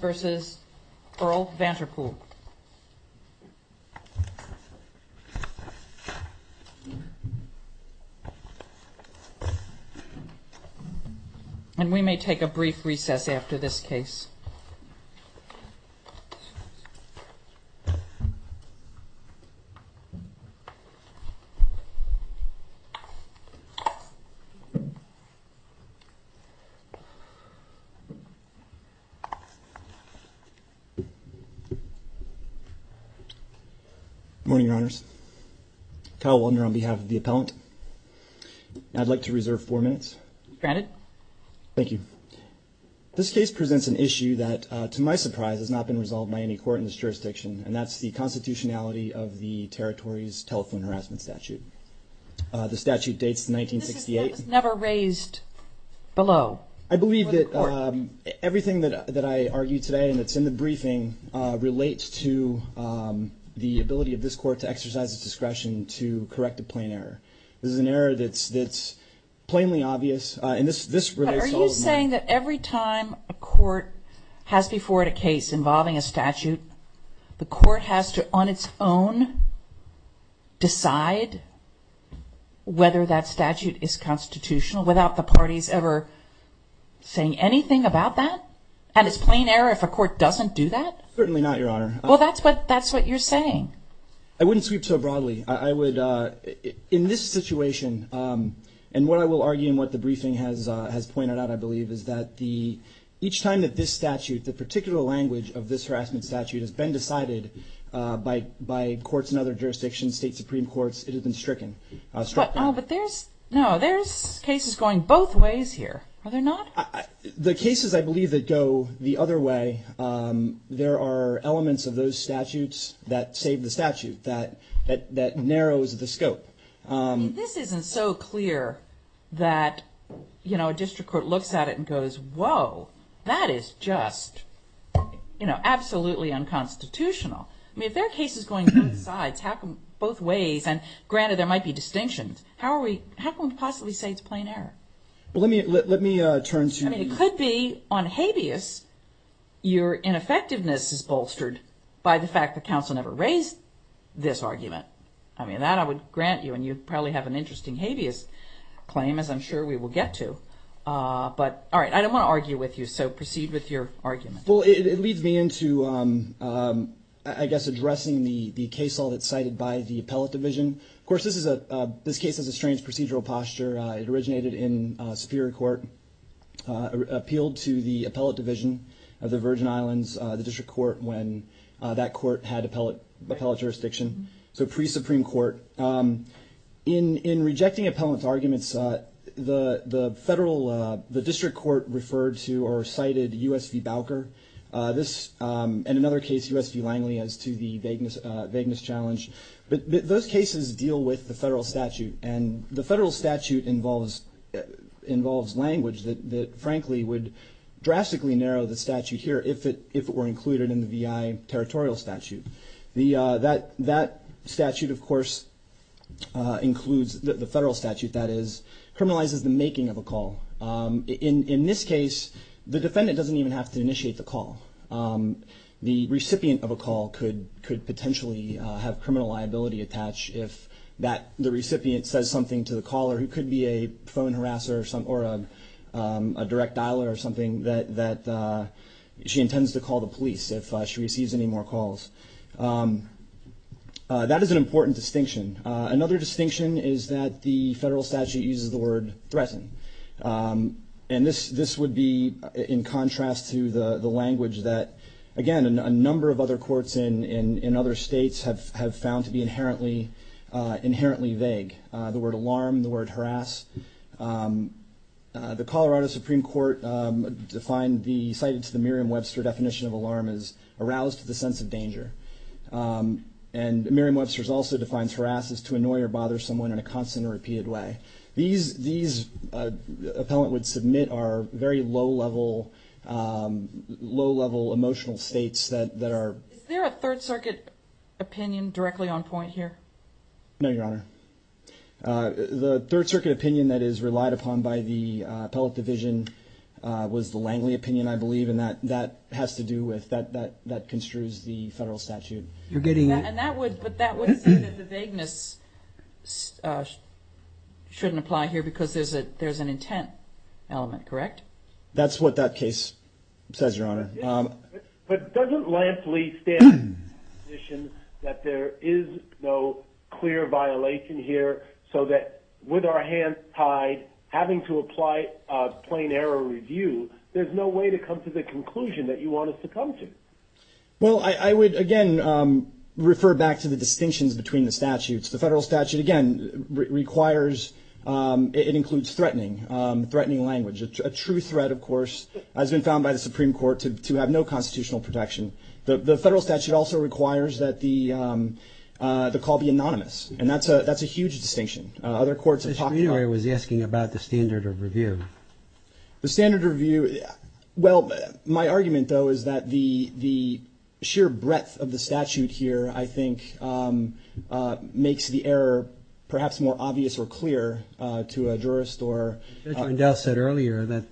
and we may take a brief recess after this case. Good morning, Your Honors. Kyle Waldner on behalf of the appellant. I'd like to reserve four minutes. Granted. Thank you. This case presents an issue that, to my surprise, has not been resolved by any court in this jurisdiction, and that's the constitutionality of the territory's telephone harassment statute. The statute dates to 1968. This is never raised below the court. I believe that everything that I argue today and that's in the briefing relates to the ability of this court to exercise its discretion to correct a plain error. This is an error that's plainly obvious. Are you saying that every time a court has before it a case involving a statute, the court has to, on its own, decide whether that statute is constitutional without the parties ever saying anything about that? And it's plain error if a court doesn't do that? Certainly not, Your Honor. Well, that's what you're saying. I wouldn't sweep so broadly. In this situation, and what I will argue in what the briefing has pointed out, I believe, is that each time that this statute, the particular language of this harassment statute has been decided by courts in other jurisdictions, state supreme courts, it has been stricken. But there's, no, there's cases going both ways here, are there not? The cases, I believe, that go the other way, there are elements of those statutes that save the statute, that narrows the scope. This isn't so clear that, you know, a district court looks at it and goes, whoa, that is just, you know, absolutely unconstitutional. I mean, if there are cases going both sides, how come both ways, and granted there might be distinctions, how are we, how can we possibly say it's plain error? Well, let me, let me turn to you. I mean, it could be on habeas, your ineffectiveness is bolstered by the fact that counsel never raised this argument. I mean, that I would grant you, and you'd probably have an interesting habeas claim, as I'm sure we will get to. But all right, I don't want to argue with you, so proceed with your argument. Well, it leads me into, I guess, addressing the case law that's cited by the appellate division. Of course, this is a, this case has a strange procedural posture. It originated in Superior Court, appealed to the appellate division of the Virgin Islands, the district court, when that court had appellate jurisdiction, so pre-Supreme Court. In rejecting appellant's this, and another case, U.S. v. Langley, as to the vagueness, vagueness challenge, but those cases deal with the federal statute, and the federal statute involves, involves language that, that frankly would drastically narrow the statute here if it, if it were included in the VI territorial statute. The, that, that statute, of course, includes, the federal statute, that is, criminalizes the making of a call. In, in this case, the defendant doesn't even have to initiate the call. The recipient of a call could, could potentially have criminal liability attached if that, the recipient says something to the caller, who could be a phone harasser or some, or a, a direct dialer or something, that, that she intends to call the police if she receives any more calls. That is an important distinction. Another distinction is that the federal statute uses the word threaten, and this, this would be in contrast to the, the language that, again, a number of other courts in, in, in other states have, have found to be inherently, inherently vague. The word alarm, the word harass. The Colorado Supreme Court defined the, cited to the Merriam-Webster definition of alarm as aroused to the sense of danger. And Merriam-Webster's also defines harass as to annoy or bother someone in a constant or repeated way. These, these appellant would submit are very low level, low level emotional states that, that are... Is there a Third Circuit opinion directly on point here? No, Your Honor. The Third Circuit opinion that is relied upon by the appellate division was the Langley opinion, I believe, and that, that has to do with, that, that, that construes the federal statute. You're getting... And that would, but that would say that the vagueness shouldn't apply here because there's an intent element, correct? That's what that case says, Your Honor. But doesn't Langley stand the position that there is no clear violation here so that with our hands tied, having to apply a plain error review, there's no way to come to the conclusion that you want us to come to? Well, I, I would again refer back to the distinctions between the statutes. The federal statute, again, requires, it includes threatening, threatening language. A true threat, of course, has been found by the Supreme Court to, to have no constitutional protection. The, the federal statute also requires that the, the call be anonymous. And that's a, that's a huge distinction. Other courts have talked about... The Supreme Court was asking about the standard of review. The standard review, well, my argument though is that the, the sheer breadth of the statute here, I think, makes the error perhaps more obvious or clear to a jurist or... Judge Rendell said earlier that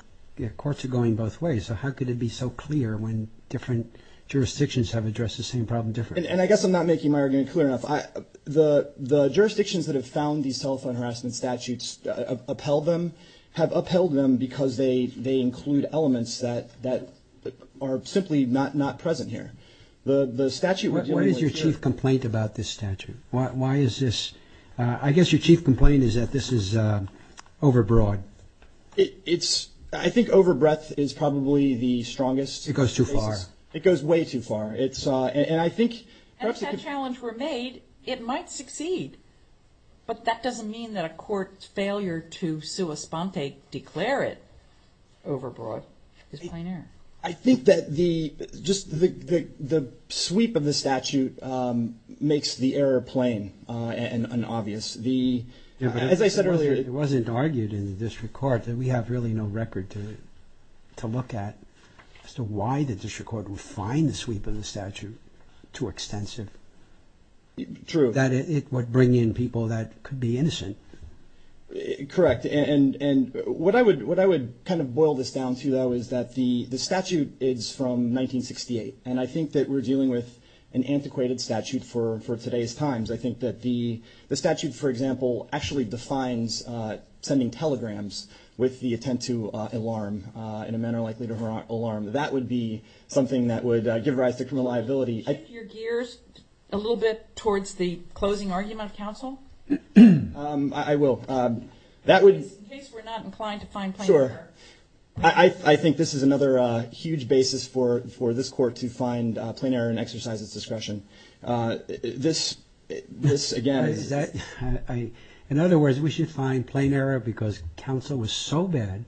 courts are going both ways. So how could it be so clear when different jurisdictions have addressed the same problem differently? And I guess I'm not making my argument clear enough. I, the, the jurisdictions that have found these telephone harassment statutes upheld them, have upheld them because they, they include elements that, that are simply not, not present here. The, the statute would be more clear. What is your chief complaint about this statute? Why, why is this, I guess your chief complaint is that this is overbroad. It's, I think overbreadth is probably the strongest... It goes too far. It goes way too far. It's, and I think perhaps it could... Had that challenge were made, it might succeed. But that doesn't mean that a court's failure to sua sponte, declare it overbroad, is plain error. I think that the, just the, the sweep of the statute makes the error plain and, and obvious. The... As I said earlier... It wasn't argued in the district court that we have really no record to, to look at as to why the district court would find the sweep of the statute too extensive. True. That it would bring in people that could be innocent. Correct. And, and what I would, what I would kind of boil this down to though is that the, the statute is from 1968. And I think that we're dealing with an antiquated statute for, for today's times. I think that the, the statute, for example, actually defines sending telegrams with the attempt to alarm in a manner likely to alarm. That would be something that would give rise to criminal liability. Could you shift your gears a little bit towards the closing argument of counsel? I will. That would... In case we're not inclined to find plain error. Sure. I, I think this is another huge basis for, for this court to find plain error and exercise its discretion. This, this again... I, I, in other words, we should find plain error because counsel was so bad,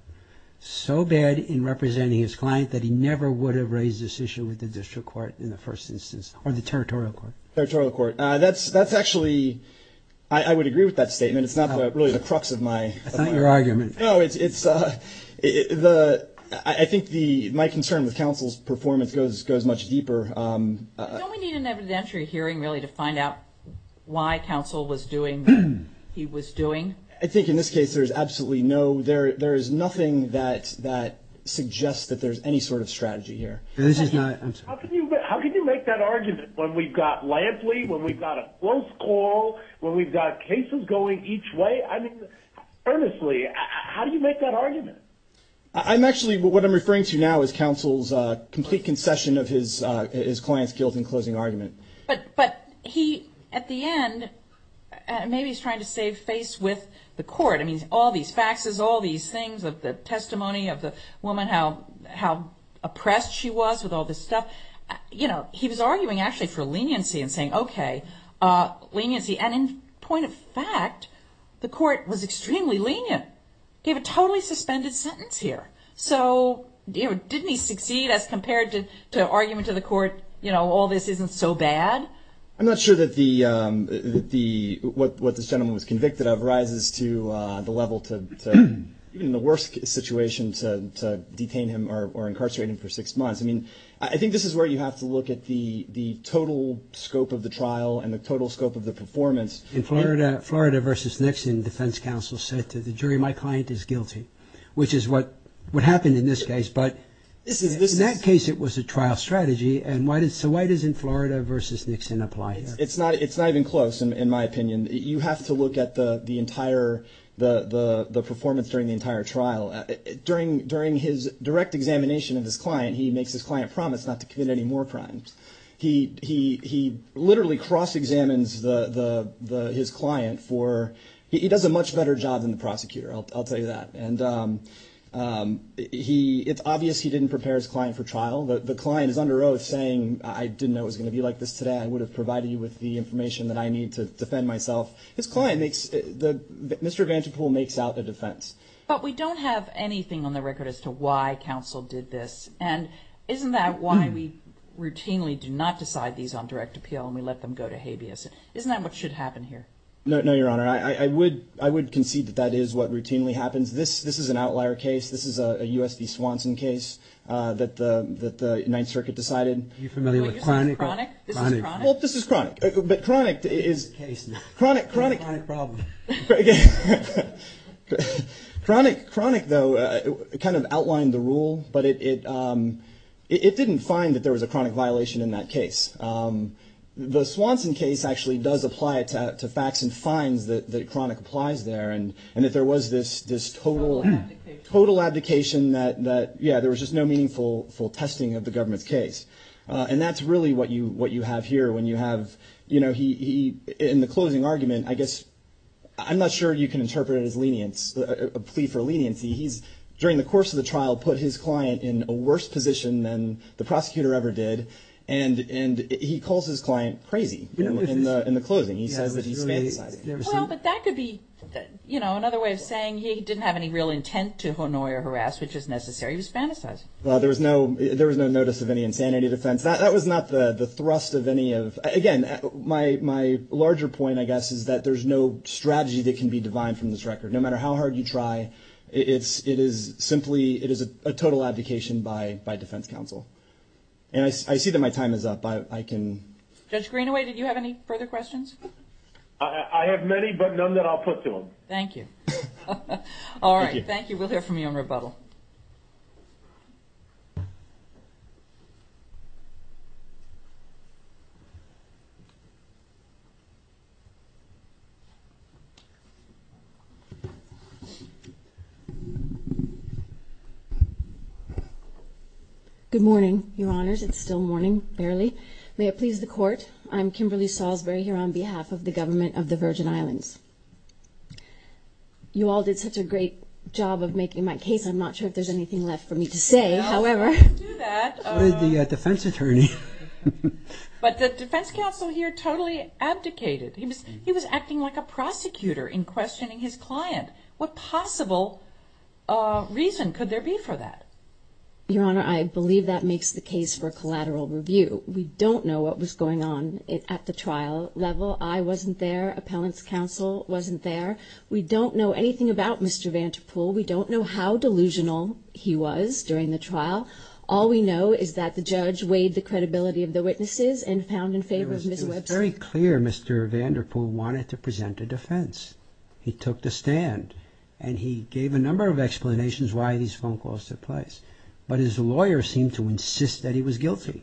so bad in representing his client that he never would have raised this issue with the district court in the first instance or the territorial court. Territorial court. That's, that's actually, I would agree with that statement. It's not really the crux of my... I thank your argument. No, it's, it's the, I think the, my concern with counsel's performance goes, goes much deeper. Don't we need an evidentiary hearing really to find out why counsel was doing what he was doing? I think in this case there's absolutely no, there, there is nothing that, that suggests that there's any sort of strategy here. This is not... How can you, how can you make that argument when we've got Lampley, when we've got a close call, when we've got cases going each way? I mean, earnestly, how do you make that argument? I'm actually, what I'm referring to now is counsel's complete concession of his, his client's guilt in closing argument. But he, at the end, maybe he's trying to save face with the court. I mean, all these faxes, all these things of the testimony of the woman, how, how oppressed she was with all this stuff. But, you know, he was arguing actually for leniency and saying, okay, leniency, and in point of fact, the court was extremely lenient, gave a totally suspended sentence here. So didn't he succeed as compared to, to argument to the court, you know, all this isn't so bad? I'm not sure that the, the, what, what this gentleman was convicted of rises to the level to, to even the worst situation to, to detain him or, or incarcerate him for six months. I mean, I think this is where you have to look at the, the total scope of the trial and the total scope of the performance. In Florida, Florida versus Nixon, defense counsel said to the jury, my client is guilty, which is what, what happened in this case. But in that case, it was a trial strategy. And why did, so why doesn't Florida versus Nixon apply here? It's not, it's not even close, in my opinion. You have to look at the, the entire, the, the performance during the entire trial. During, during his direct examination of his client, he makes his client promise not to commit any more crimes. He, he, he literally cross-examines the, the, the, his client for, he does a much better job than the prosecutor. I'll, I'll tell you that. And he, it's obvious he didn't prepare his client for trial. The, the client is under oath saying, I didn't know it was going to be like this today. I would have provided you with the information that I need to defend myself. His client makes the, Mr. Vancepool makes out the defense. But we don't have anything on the record as to why counsel did this. And isn't that why we routinely do not decide these on direct appeal and we let them go to habeas? Isn't that what should happen here? No, no, Your Honor. I, I would, I would concede that that is what routinely happens. This, this is an outlier case. This is a, a U.S. v. Swanson case that the, that the Ninth Circuit decided. Are you familiar with Chronic? Chronic? This is Chronic. Well, this is Chronic. But Chronic is, Chronic, Chronic. Chronic problem. Chronic, Chronic though, kind of outlined the rule, but it, it, it, it didn't find that there was a chronic violation in that case. The Swanson case actually does apply it to, to facts and finds that, that chronic applies there. And, and that there was this, this total, total abdication that, that, yeah, there was just no meaningful, full testing of the government's case. And that's really what you, what you have here when you have, you know, he, he, in the closing argument, I guess, I'm not sure you can interpret it as lenience, a plea for leniency. He's, during the course of the trial, put his client in a worse position than the prosecutor ever did. And, and he calls his client crazy in the, in the closing. He says that he's fantasizing. Well, but that could be, you know, another way of saying he didn't have any real intent to annoy or harass, which is necessary. He was fantasizing. Well, there was no, there was no notice of any insanity defense. That, that was not the, the thrust of any of, again, my, my larger point, I guess, is that there's no strategy that can be divine from this record. No matter how hard you try, it's, it is simply, it is a total abdication by, by defense counsel. And I, I see that my time is up. I, I can. Judge Greenaway, did you have any further questions? I have many, but none that I'll put to him. Thank you. All right. Thank you. We'll hear from you on rebuttal. Good morning, your honors. It's still morning, barely. May it please the court. I'm Kimberly Salisbury here on behalf of the government of the Virgin Islands. You all did such a great job of making my case. I'm not sure if there's anything left for me to say, however. The defense attorney. But the defense counsel here totally abdicated. He was, he was acting like a prosecutor in questioning his client. What possible reason could there be for that? Your honor, I believe that makes the case for a collateral review. We don't know what was going on at the trial level. I wasn't there. Appellant's counsel wasn't there. We don't know anything about Mr. Vanderpool. We don't know how delusional he was during the trial. All we know is that the judge weighed the credibility of the witnesses and found in favor of Ms. Webster. It was very clear Mr. Vanderpool wanted to present a defense. He took the stand and he gave a number of explanations why these phone calls took place. But his lawyer seemed to insist that he was guilty.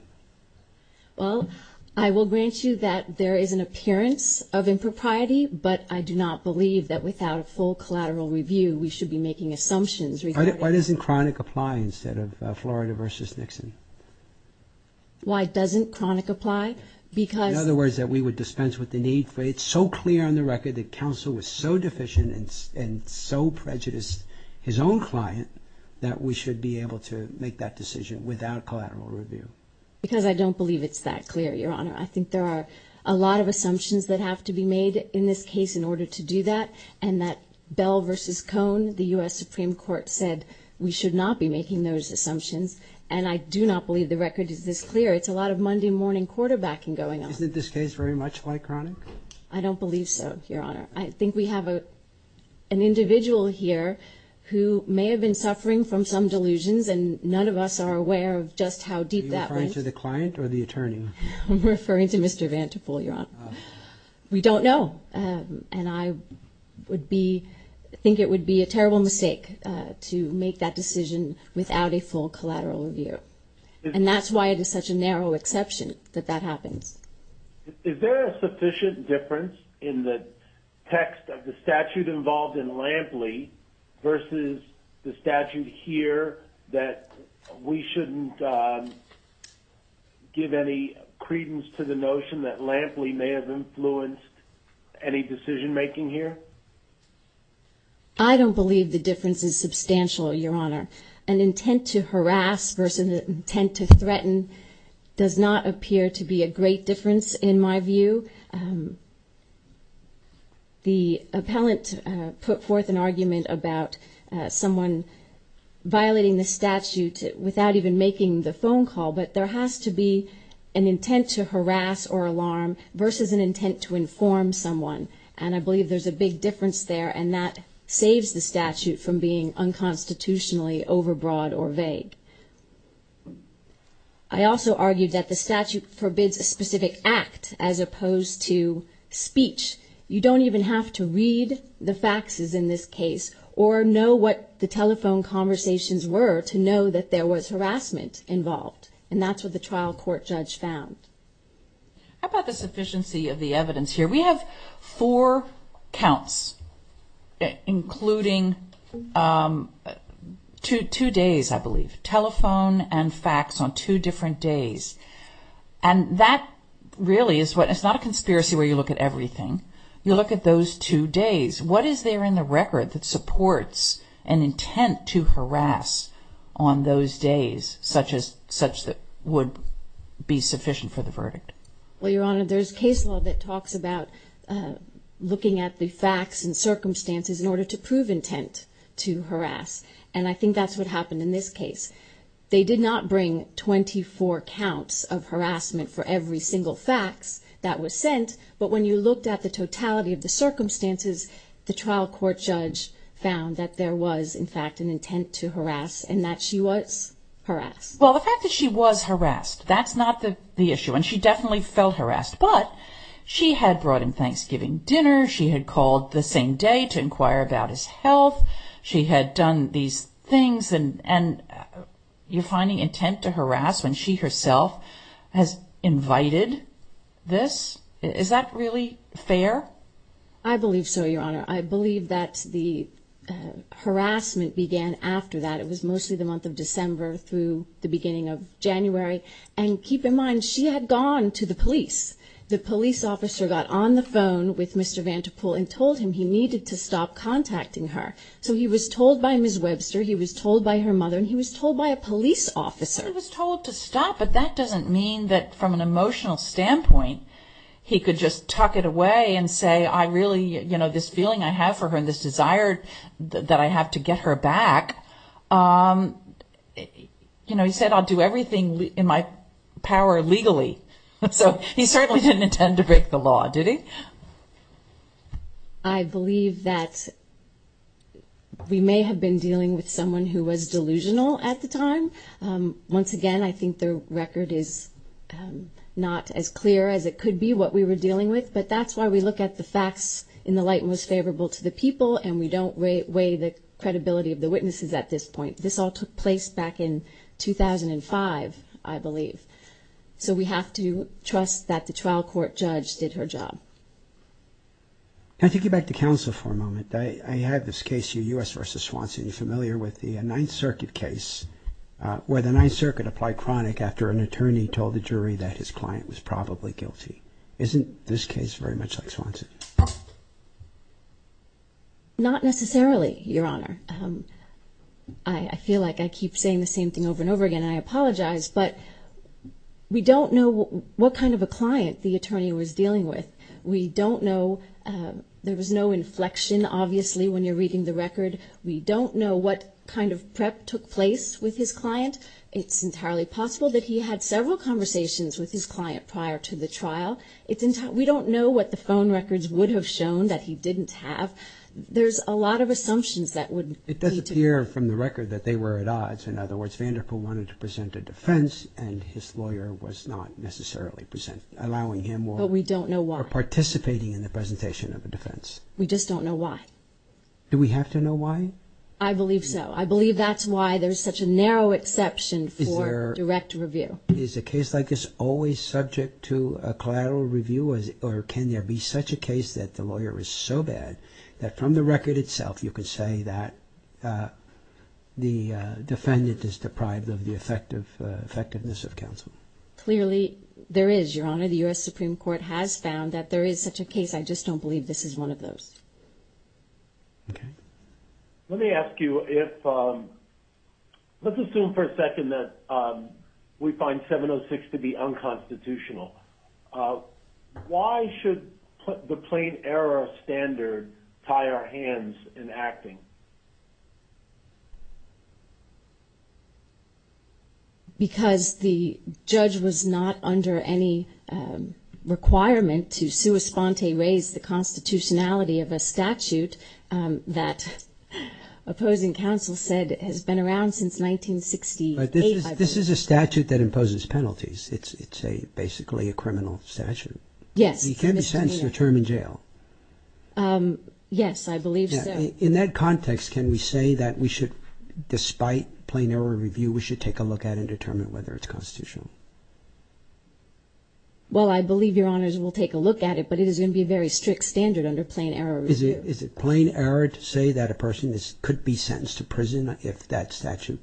Well, I will grant you that there is an appearance of impropriety, but I do not believe that without a full collateral review, we should be making assumptions regarding... Why doesn't chronic apply instead of Florida versus Nixon? Why doesn't chronic apply? Because... In other words, that we would dispense with the need for... It's so clear on the record that counsel was so deficient and so prejudiced his own client that we should be able to make that decision without collateral review. Because I don't believe it's that clear, your honor. I think there are a lot of assumptions that have to be made in this case in order to do that. And that Bell versus Cohn, the we should not be making those assumptions. And I do not believe the record is this clear. It's a lot of Monday morning quarterbacking going on. Isn't this case very much like chronic? I don't believe so, your honor. I think we have an individual here who may have been suffering from some delusions and none of us are aware of just how deep that went. Are you referring to the client or the attorney? I'm referring to Mr. Vanderpool, your honor. We don't know. And I would be... I think it would be a terrible mistake to make that decision without a full collateral review. And that's why it is such a narrow exception that that happens. Is there a sufficient difference in the text of the statute involved in Lampley versus the statute here that we shouldn't give any credence to the notion that Lampley may have influenced any decision making here? I don't believe the difference is substantial, your honor. An intent to harass versus an intent to threaten does not appear to be a great difference in my view. The appellant put forth an argument about someone violating the statute without even making the phone call, but there has to be an intent to harass or alarm versus an intent to inform someone. And I believe there's a big difference there and that saves the statute from being unconstitutionally overbroad or vague. I also argued that the statute forbids a specific act as opposed to speech. You don't even have to read the faxes in this case or know what the telephone conversations were to know that there was harassment involved. And that's what the trial court judge found. How about the sufficiency of the evidence here? We have four counts, including two days, I believe. Telephone and fax on two different days. And that really is what, it's not a conspiracy where you look at everything. You look at those two days. What is there in the record that supports an intent to harass on those days such that would be sufficient for the verdict? Well, Your Honor, there's case law that talks about looking at the facts and circumstances in order to prove intent to harass. And I think that's what happened in this case. They did not bring 24 counts of harassment for every single fax that was sent. But when you looked at the totality of the circumstances, the trial court judge found that there was, in fact, an intent to harass and that she was harassed. Well, the fact that she was harassed, that's not the issue. And she definitely felt harassed. But she had brought him Thanksgiving dinner. She had called the same day to inquire about his health. She had done these things. And you're finding intent to harass when she herself has invited this? Is that really fair? I believe so, Your Honor. I believe that the harassment began after that. It was mostly the month of December through the beginning of January. And keep in mind, she had gone to the police. The police officer got on the phone with Mr. Vanderpool and told him he needed to stop contacting her. So he was told by Ms. Webster, he was told by her mother, and he was told by a police officer. He was told to stop. But that doesn't mean that from an emotional standpoint, he could just tuck it away and say, I really, you know, this feeling I have for her and this desire that I have to get her back. You know, he said, I'll do everything in my power legally. So he certainly didn't intend to break the law, did he? I believe that we may have been dealing with someone who was delusional at the time. Once again, I think the record is not as clear as it could be what we were dealing with. But that's why we look at the facts in the light most favorable to the people. And we don't weigh the credibility of the witnesses at this point. This all took place back in 2005, I believe. So we have to trust that the trial court judge did her job. Can I take you back to counsel for a moment? I have this case here, U.S. v. Swanson. You're familiar with the Ninth Circuit case, where the Ninth Circuit applied chronic after an attorney told the jury that his client was probably guilty. Isn't this case very much like Swanson? Not necessarily, Your Honor. I feel like I keep saying the same thing over and over again. I apologize. But we don't know what kind of a client the attorney was dealing with. We don't know. There was no inflection, obviously, when you're reading the record. We don't know what kind of prep took place with his client. It's entirely possible that he had several conversations with his client prior to the trial. We don't know what the phone records would have shown that he didn't have. There's a lot of assumptions that would be true. It does appear from the record that they were at odds. In other words, Vanderpool wanted to present a defense, and his lawyer was not necessarily allowing him or participating in the presentation of a defense. We just don't know why. Do we have to know why? I believe so. I believe that's why there's such a narrow exception for direct review. Is a case like this always subject to a collateral review, or can there be such a case that the lawyer is so bad that from the record itself you could say that the defendant is deprived of the effectiveness of counsel? Clearly there is, Your Honor. The U.S. Supreme Court has found that there is such a case. I just don't believe this is one of those. Let me ask you if, let's assume for a second that we find 706 to be unconstitutional. Why should the plain error standard tie our hands in acting? Because the judge was not under any requirement to sua sponte raise the constitutionality of a statute that opposing counsel said has been around since 1968, I believe. This is a statute that imposes penalties. It's basically a criminal statute. Yes. It can't be sentenced to a term in jail. Yes, I believe so. In that context, can we say that we should, despite plain error review, we should take a look at it and determine whether it's constitutional? Well I believe, Your Honors, we'll take a look at it, but it is going to be a very strict standard under plain error review. Is it plain error to say that a person could be sentenced to prison if that statute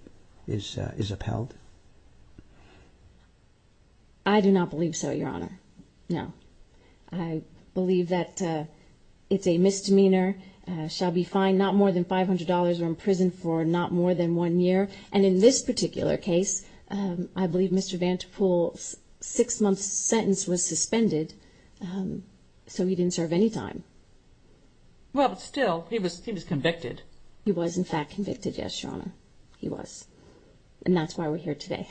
is upheld? I do not believe so, Your Honor. No. I believe that it's a misdemeanor, shall be fined not more than $500, or imprisoned for not more than one year, and in this particular case, I believe Mr. Vanderpool's six-month sentence was suspended, so he didn't serve any time. Well, still, he was convicted. He was, in fact, convicted, yes, Your Honor. He was. And that's why we're here today.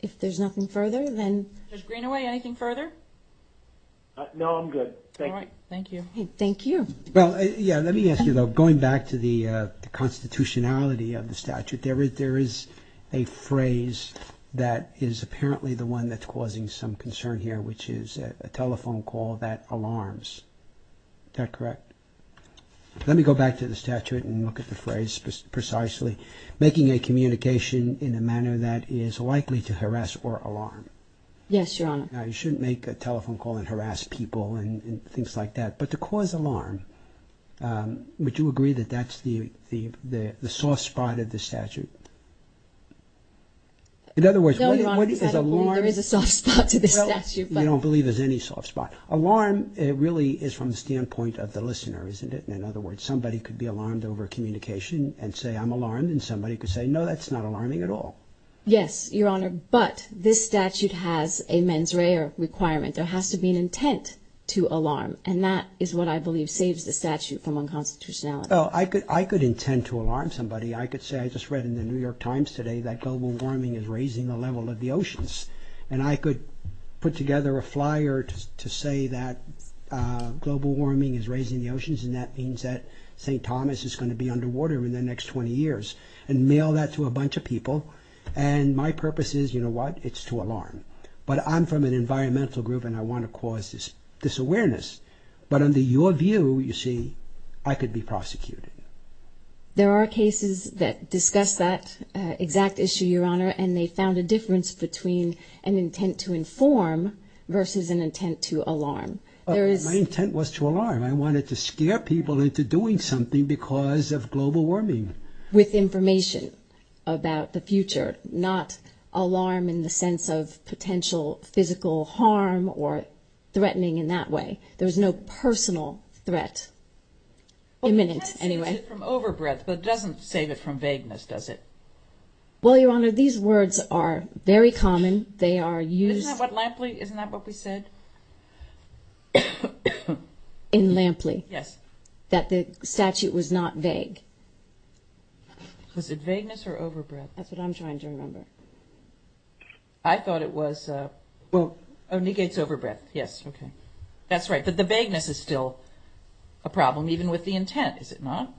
If there's nothing further, then... Judge Greenaway, anything further? No, I'm good. Thank you. All right. Thank you. Thank you. Well, yeah, let me ask you, though, going back to the constitutionality of the statute, there is a phrase that is apparently the one that's causing some concern here, which is a telephone call that alarms. Is that correct? Let me go back to the statute and look at the phrase precisely. Making a communication in a manner that is likely to harass or alarm. Yes, Your Honor. Now, you shouldn't make a telephone call and harass people and things like that, but to me, would you agree that that's the soft spot of the statute? In other words, what No, Your Honor, there is a soft spot to the statute, but... Well, you don't believe there's any soft spot. Alarm, it really is from the standpoint of the listener, isn't it? In other words, somebody could be alarmed over a communication and say, I'm alarmed, and somebody could say, no, that's not alarming at all. Yes, Your Honor, but this statute has a mens rea requirement. There has to be an intent to alarm, and that is what I believe saves the statute from unconstitutionality. I could intend to alarm somebody. I could say, I just read in the New York Times today that global warming is raising the level of the oceans, and I could put together a flyer to say that global warming is raising the oceans, and that means that St. Thomas is going to be underwater in the next 20 years, and mail that to a bunch of people, and my purpose is, you know what, it's to alarm. But I'm from an environmental group, and I have this awareness. But under your view, you see, I could be prosecuted. There are cases that discuss that exact issue, Your Honor, and they found a difference between an intent to inform versus an intent to alarm. My intent was to alarm. I wanted to scare people into doing something because of global warming. With information about the future, not alarm in the sense of potential physical harm or threatening in that way. There's no personal threat imminent, anyway. Well, that saves it from overbreath, but it doesn't save it from vagueness, does it? Well, Your Honor, these words are very common. They are used... Isn't that what Lampley, isn't that what we said? In Lampley? Yes. That the statute was not vague. Was it vagueness or overbreath? That's what I'm trying to remember. I thought it was... Well... So it negates overbreath. Yes. Okay. That's right. But the vagueness is still a problem even with the intent, is it not?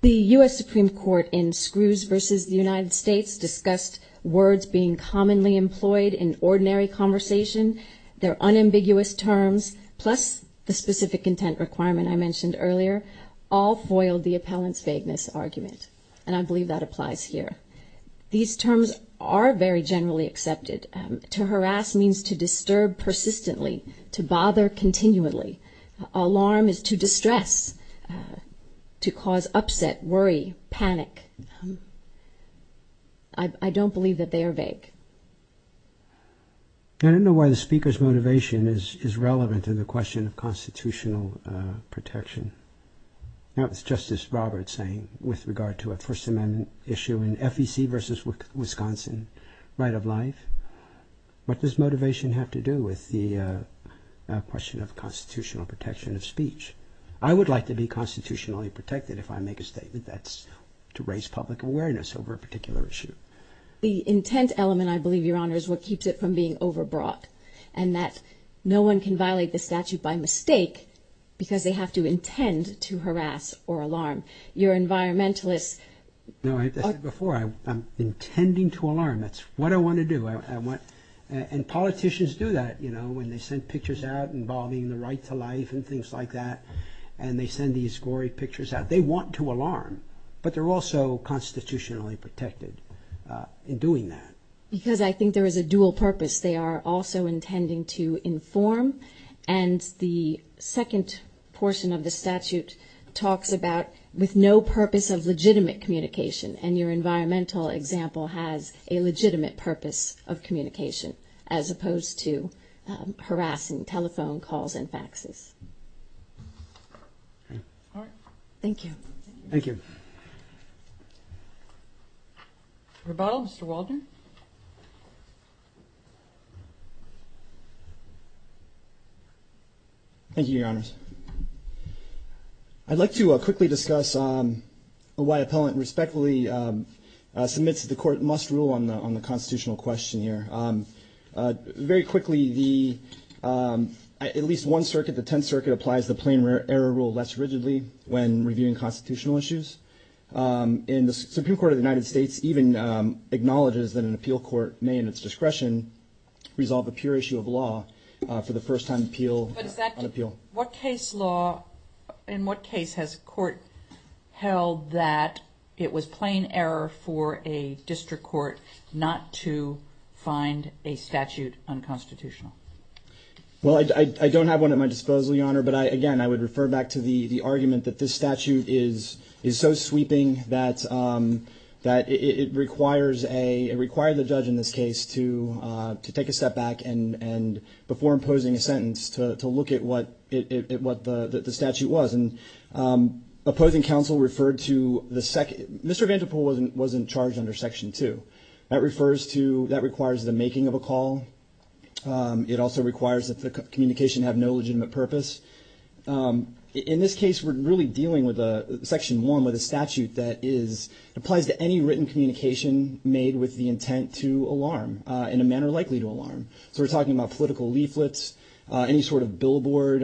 The U.S. Supreme Court in Screws v. The United States discussed words being commonly employed in ordinary conversation. Their unambiguous terms, plus the specific intent requirement I mentioned earlier, all foiled the appellant's vagueness argument. And I believe that applies here. These terms are very generally accepted. To harass means to disturb persistently, to bother continually. Alarm is to distress, to cause upset, worry, panic. I don't believe that they are vague. I don't know why the Speaker's motivation is relevant to the question of constitutional protection. That was Justice Roberts saying with regard to a First Amendment issue in FEC v. Wisconsin right of life. What does motivation have to do with the question of constitutional protection of speech? I would like to be constitutionally protected if I make a statement that's to raise public awareness over a particular issue. The intent element, I believe, Your Honor, is what keeps it from being overbrought. And that no one can violate the statute by mistake because they have to intend to harass or alarm. Your environmentalists... No, I've said before, I'm intending to alarm. That's what I want to do. And politicians do that, you know, when they send pictures out involving the right to life and things like that. And they send these gory pictures out. They want to alarm, but they're also constitutionally protected in doing that. Because I think there is a dual purpose. They are also intending to inform. And the second portion of the statute talks about with no purpose of legitimate communication. And your environmental example has a legitimate purpose of communication as opposed to harassing telephone calls and faxes. All right. Thank you. Rebuttal, Mr. Waldron. Thank you, Your Honors. I'd like to quickly discuss why appellant respectfully submits that the court must rule on the constitutional question here. Very quickly, at least one of the constitutional issues. And the Supreme Court of the United States even acknowledges that an appeal court may, in its discretion, resolve a pure issue of law for the first time appeal on appeal. What case law, in what case has a court held that it was plain error for a district court not to find a statute unconstitutional? Well, I don't have one at my disposal, Your Honor. But again, I would refer back to the case is so sweeping that it requires the judge in this case to take a step back and before imposing a sentence to look at what the statute was. And opposing counsel referred to the second, Mr. Vandepoole wasn't charged under Section 2. That refers to, that requires the making of a call. It also requires that the communication have no legitimate purpose. In this case, we're really dealing with Section 1 with a statute that is, applies to any written communication made with the intent to alarm, in a manner likely to alarm. So we're talking about political leaflets, any sort of billboard,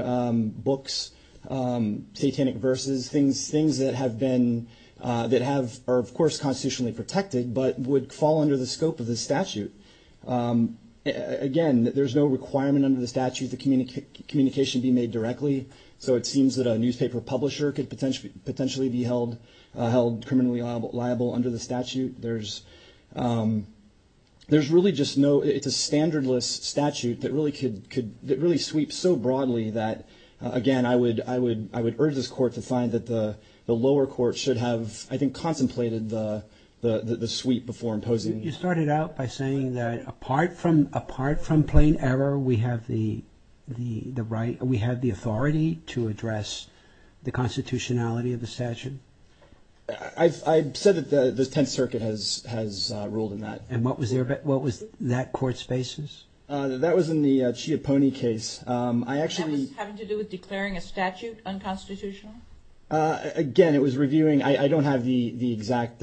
books, satanic verses, things that have been, that have, are of course constitutionally protected, but would fall under the scope of the statute. Again, there's no requirement under the statute that communication be made directly. So it seems that a newspaper publisher could potentially be held criminally liable under the statute. There's really just no, it's a standardless statute that really could, that really sweeps so broadly that, again, I would urge this court to find that the lower court should have, I think, contemplated the sweep before imposing. You started out by saying that apart from, apart from plain error, we have the, the right, we have the authority to address the constitutionality of the statute. I've said that the Tenth Circuit has, has ruled in that. And what was their, what was that court's basis? That was in the Ciappone case. I actually... And that was having to do with declaring a statute unconstitutional? Again, it was reviewing. I don't have the, the exact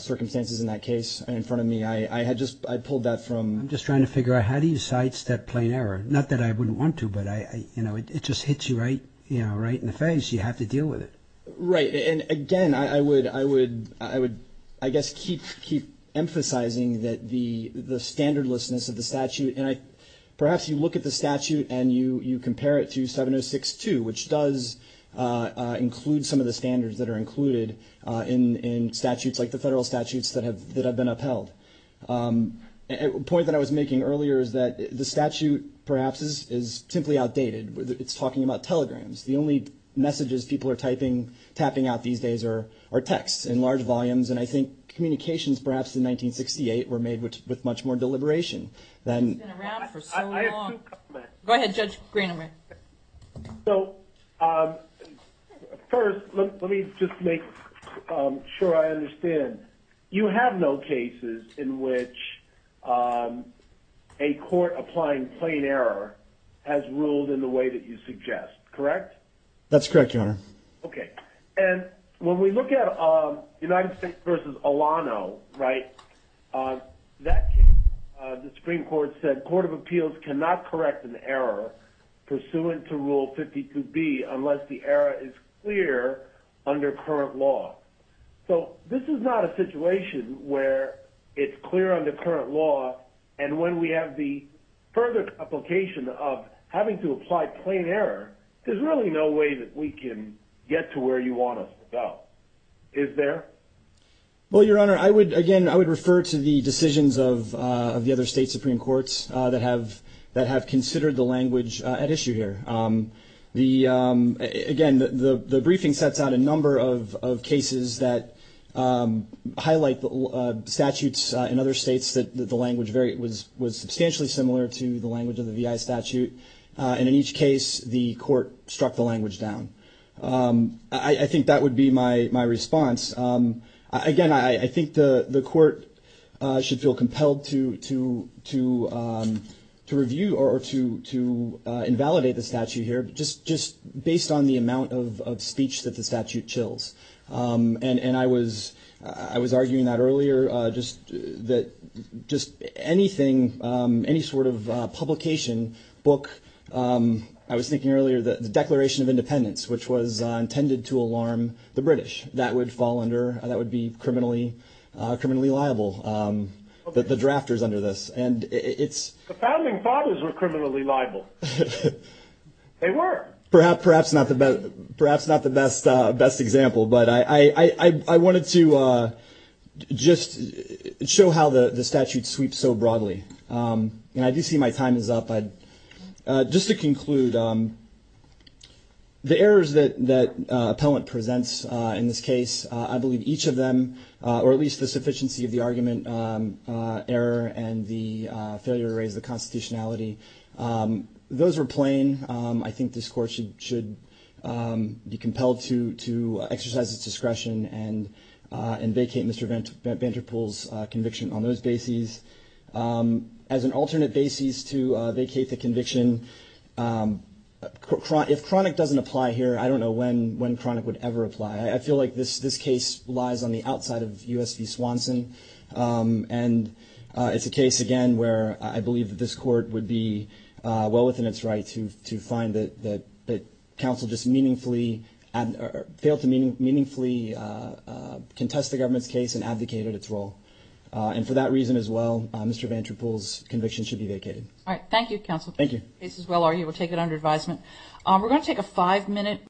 circumstances in that case in front of me. I had just, I pulled that from... I'm just trying to figure out how do you cite that plain error? Not that I wouldn't want to, but I, you know, it just hits you right, you know, right in the face. You have to deal with it. Right. And again, I would, I would, I would, I guess, keep, keep emphasizing that the, the standardlessness of the statute, and I, perhaps you look at the statute and you, you compare it to 706-2, which does include some of the standards that are included in, in statutes like the federal statutes that have, that have been upheld. A point that I was making earlier is that the statute perhaps is, is simply outdated. It's talking about telegrams. The only messages people are typing, tapping out these days are, are texts in large volumes. And I think communications perhaps in 1968 were made with, with much more deliberation than... So, first, let, let me just make sure I understand. You have no cases in which a court applying plain error has ruled in the way that you suggest, correct? That's correct, Your Honor. Okay. And when we look at United States versus Alano, right, that can, the Supreme Court said, Court of Appeals cannot correct an error pursuant to Rule 52B unless the error is clear under current law. So, this is not a situation where it's clear under current law and when we have the further application of having to apply plain error, there's really no way that we can get to where you want us to go. Is there? Well, Your Honor, I would, again, I would refer to the decisions of, of the other state Supreme Courts that have, that have considered the language at issue here. The, again, the, the briefing sets out a number of, of cases that highlight the statutes in other states that the language very, was, was substantially similar to the language of the VI statute and in each case the court struck the language down. I, I think that would be my, my response. Again, I, I think the, the court should feel compelled to, to, to, to review or to, to invalidate the statute here, just, just based on the amount of, of speech that the statute chills. And, and I was, I was arguing that earlier, just that, just anything, any sort of publication, book, I was thinking earlier that the Declaration of Independence, which was intended to alarm the British, that would fall under, that would be criminally, criminally liable, the drafters under this. And it's... The founding fathers were criminally liable. They were. Perhaps not the best, perhaps not the best, best example, but I, I, I wanted to just show how the statute sweeps so broadly. And I do see my time is up. Just to conclude, the errors that, that appellant presents in this case, I believe each of them, or at least the sufficiency of the argument, error and the failure to raise the constitutionality, those were plain. I think this court should, should be compelled to, to exercise its discretion and, and vacate Mr. Van, Van Der Poel's conviction on those bases. And as an alternate basis to vacate the conviction, chronic, if chronic doesn't apply here, I don't know when, when chronic would ever apply. I feel like this, this case lies on the outside of U.S. v. Swanson. And it's a case, again, where I believe that this court would be well within its right to, to find that, that, that counsel just meaningfully, failed to meaningfully contest the government's case and abdicated its role. And for that reason as well, Mr. Van Der Poel's conviction should be vacated. All right. Thank you, counsel. Thank you. This is well argued. We'll take it under advisement. We're going to take a five-minute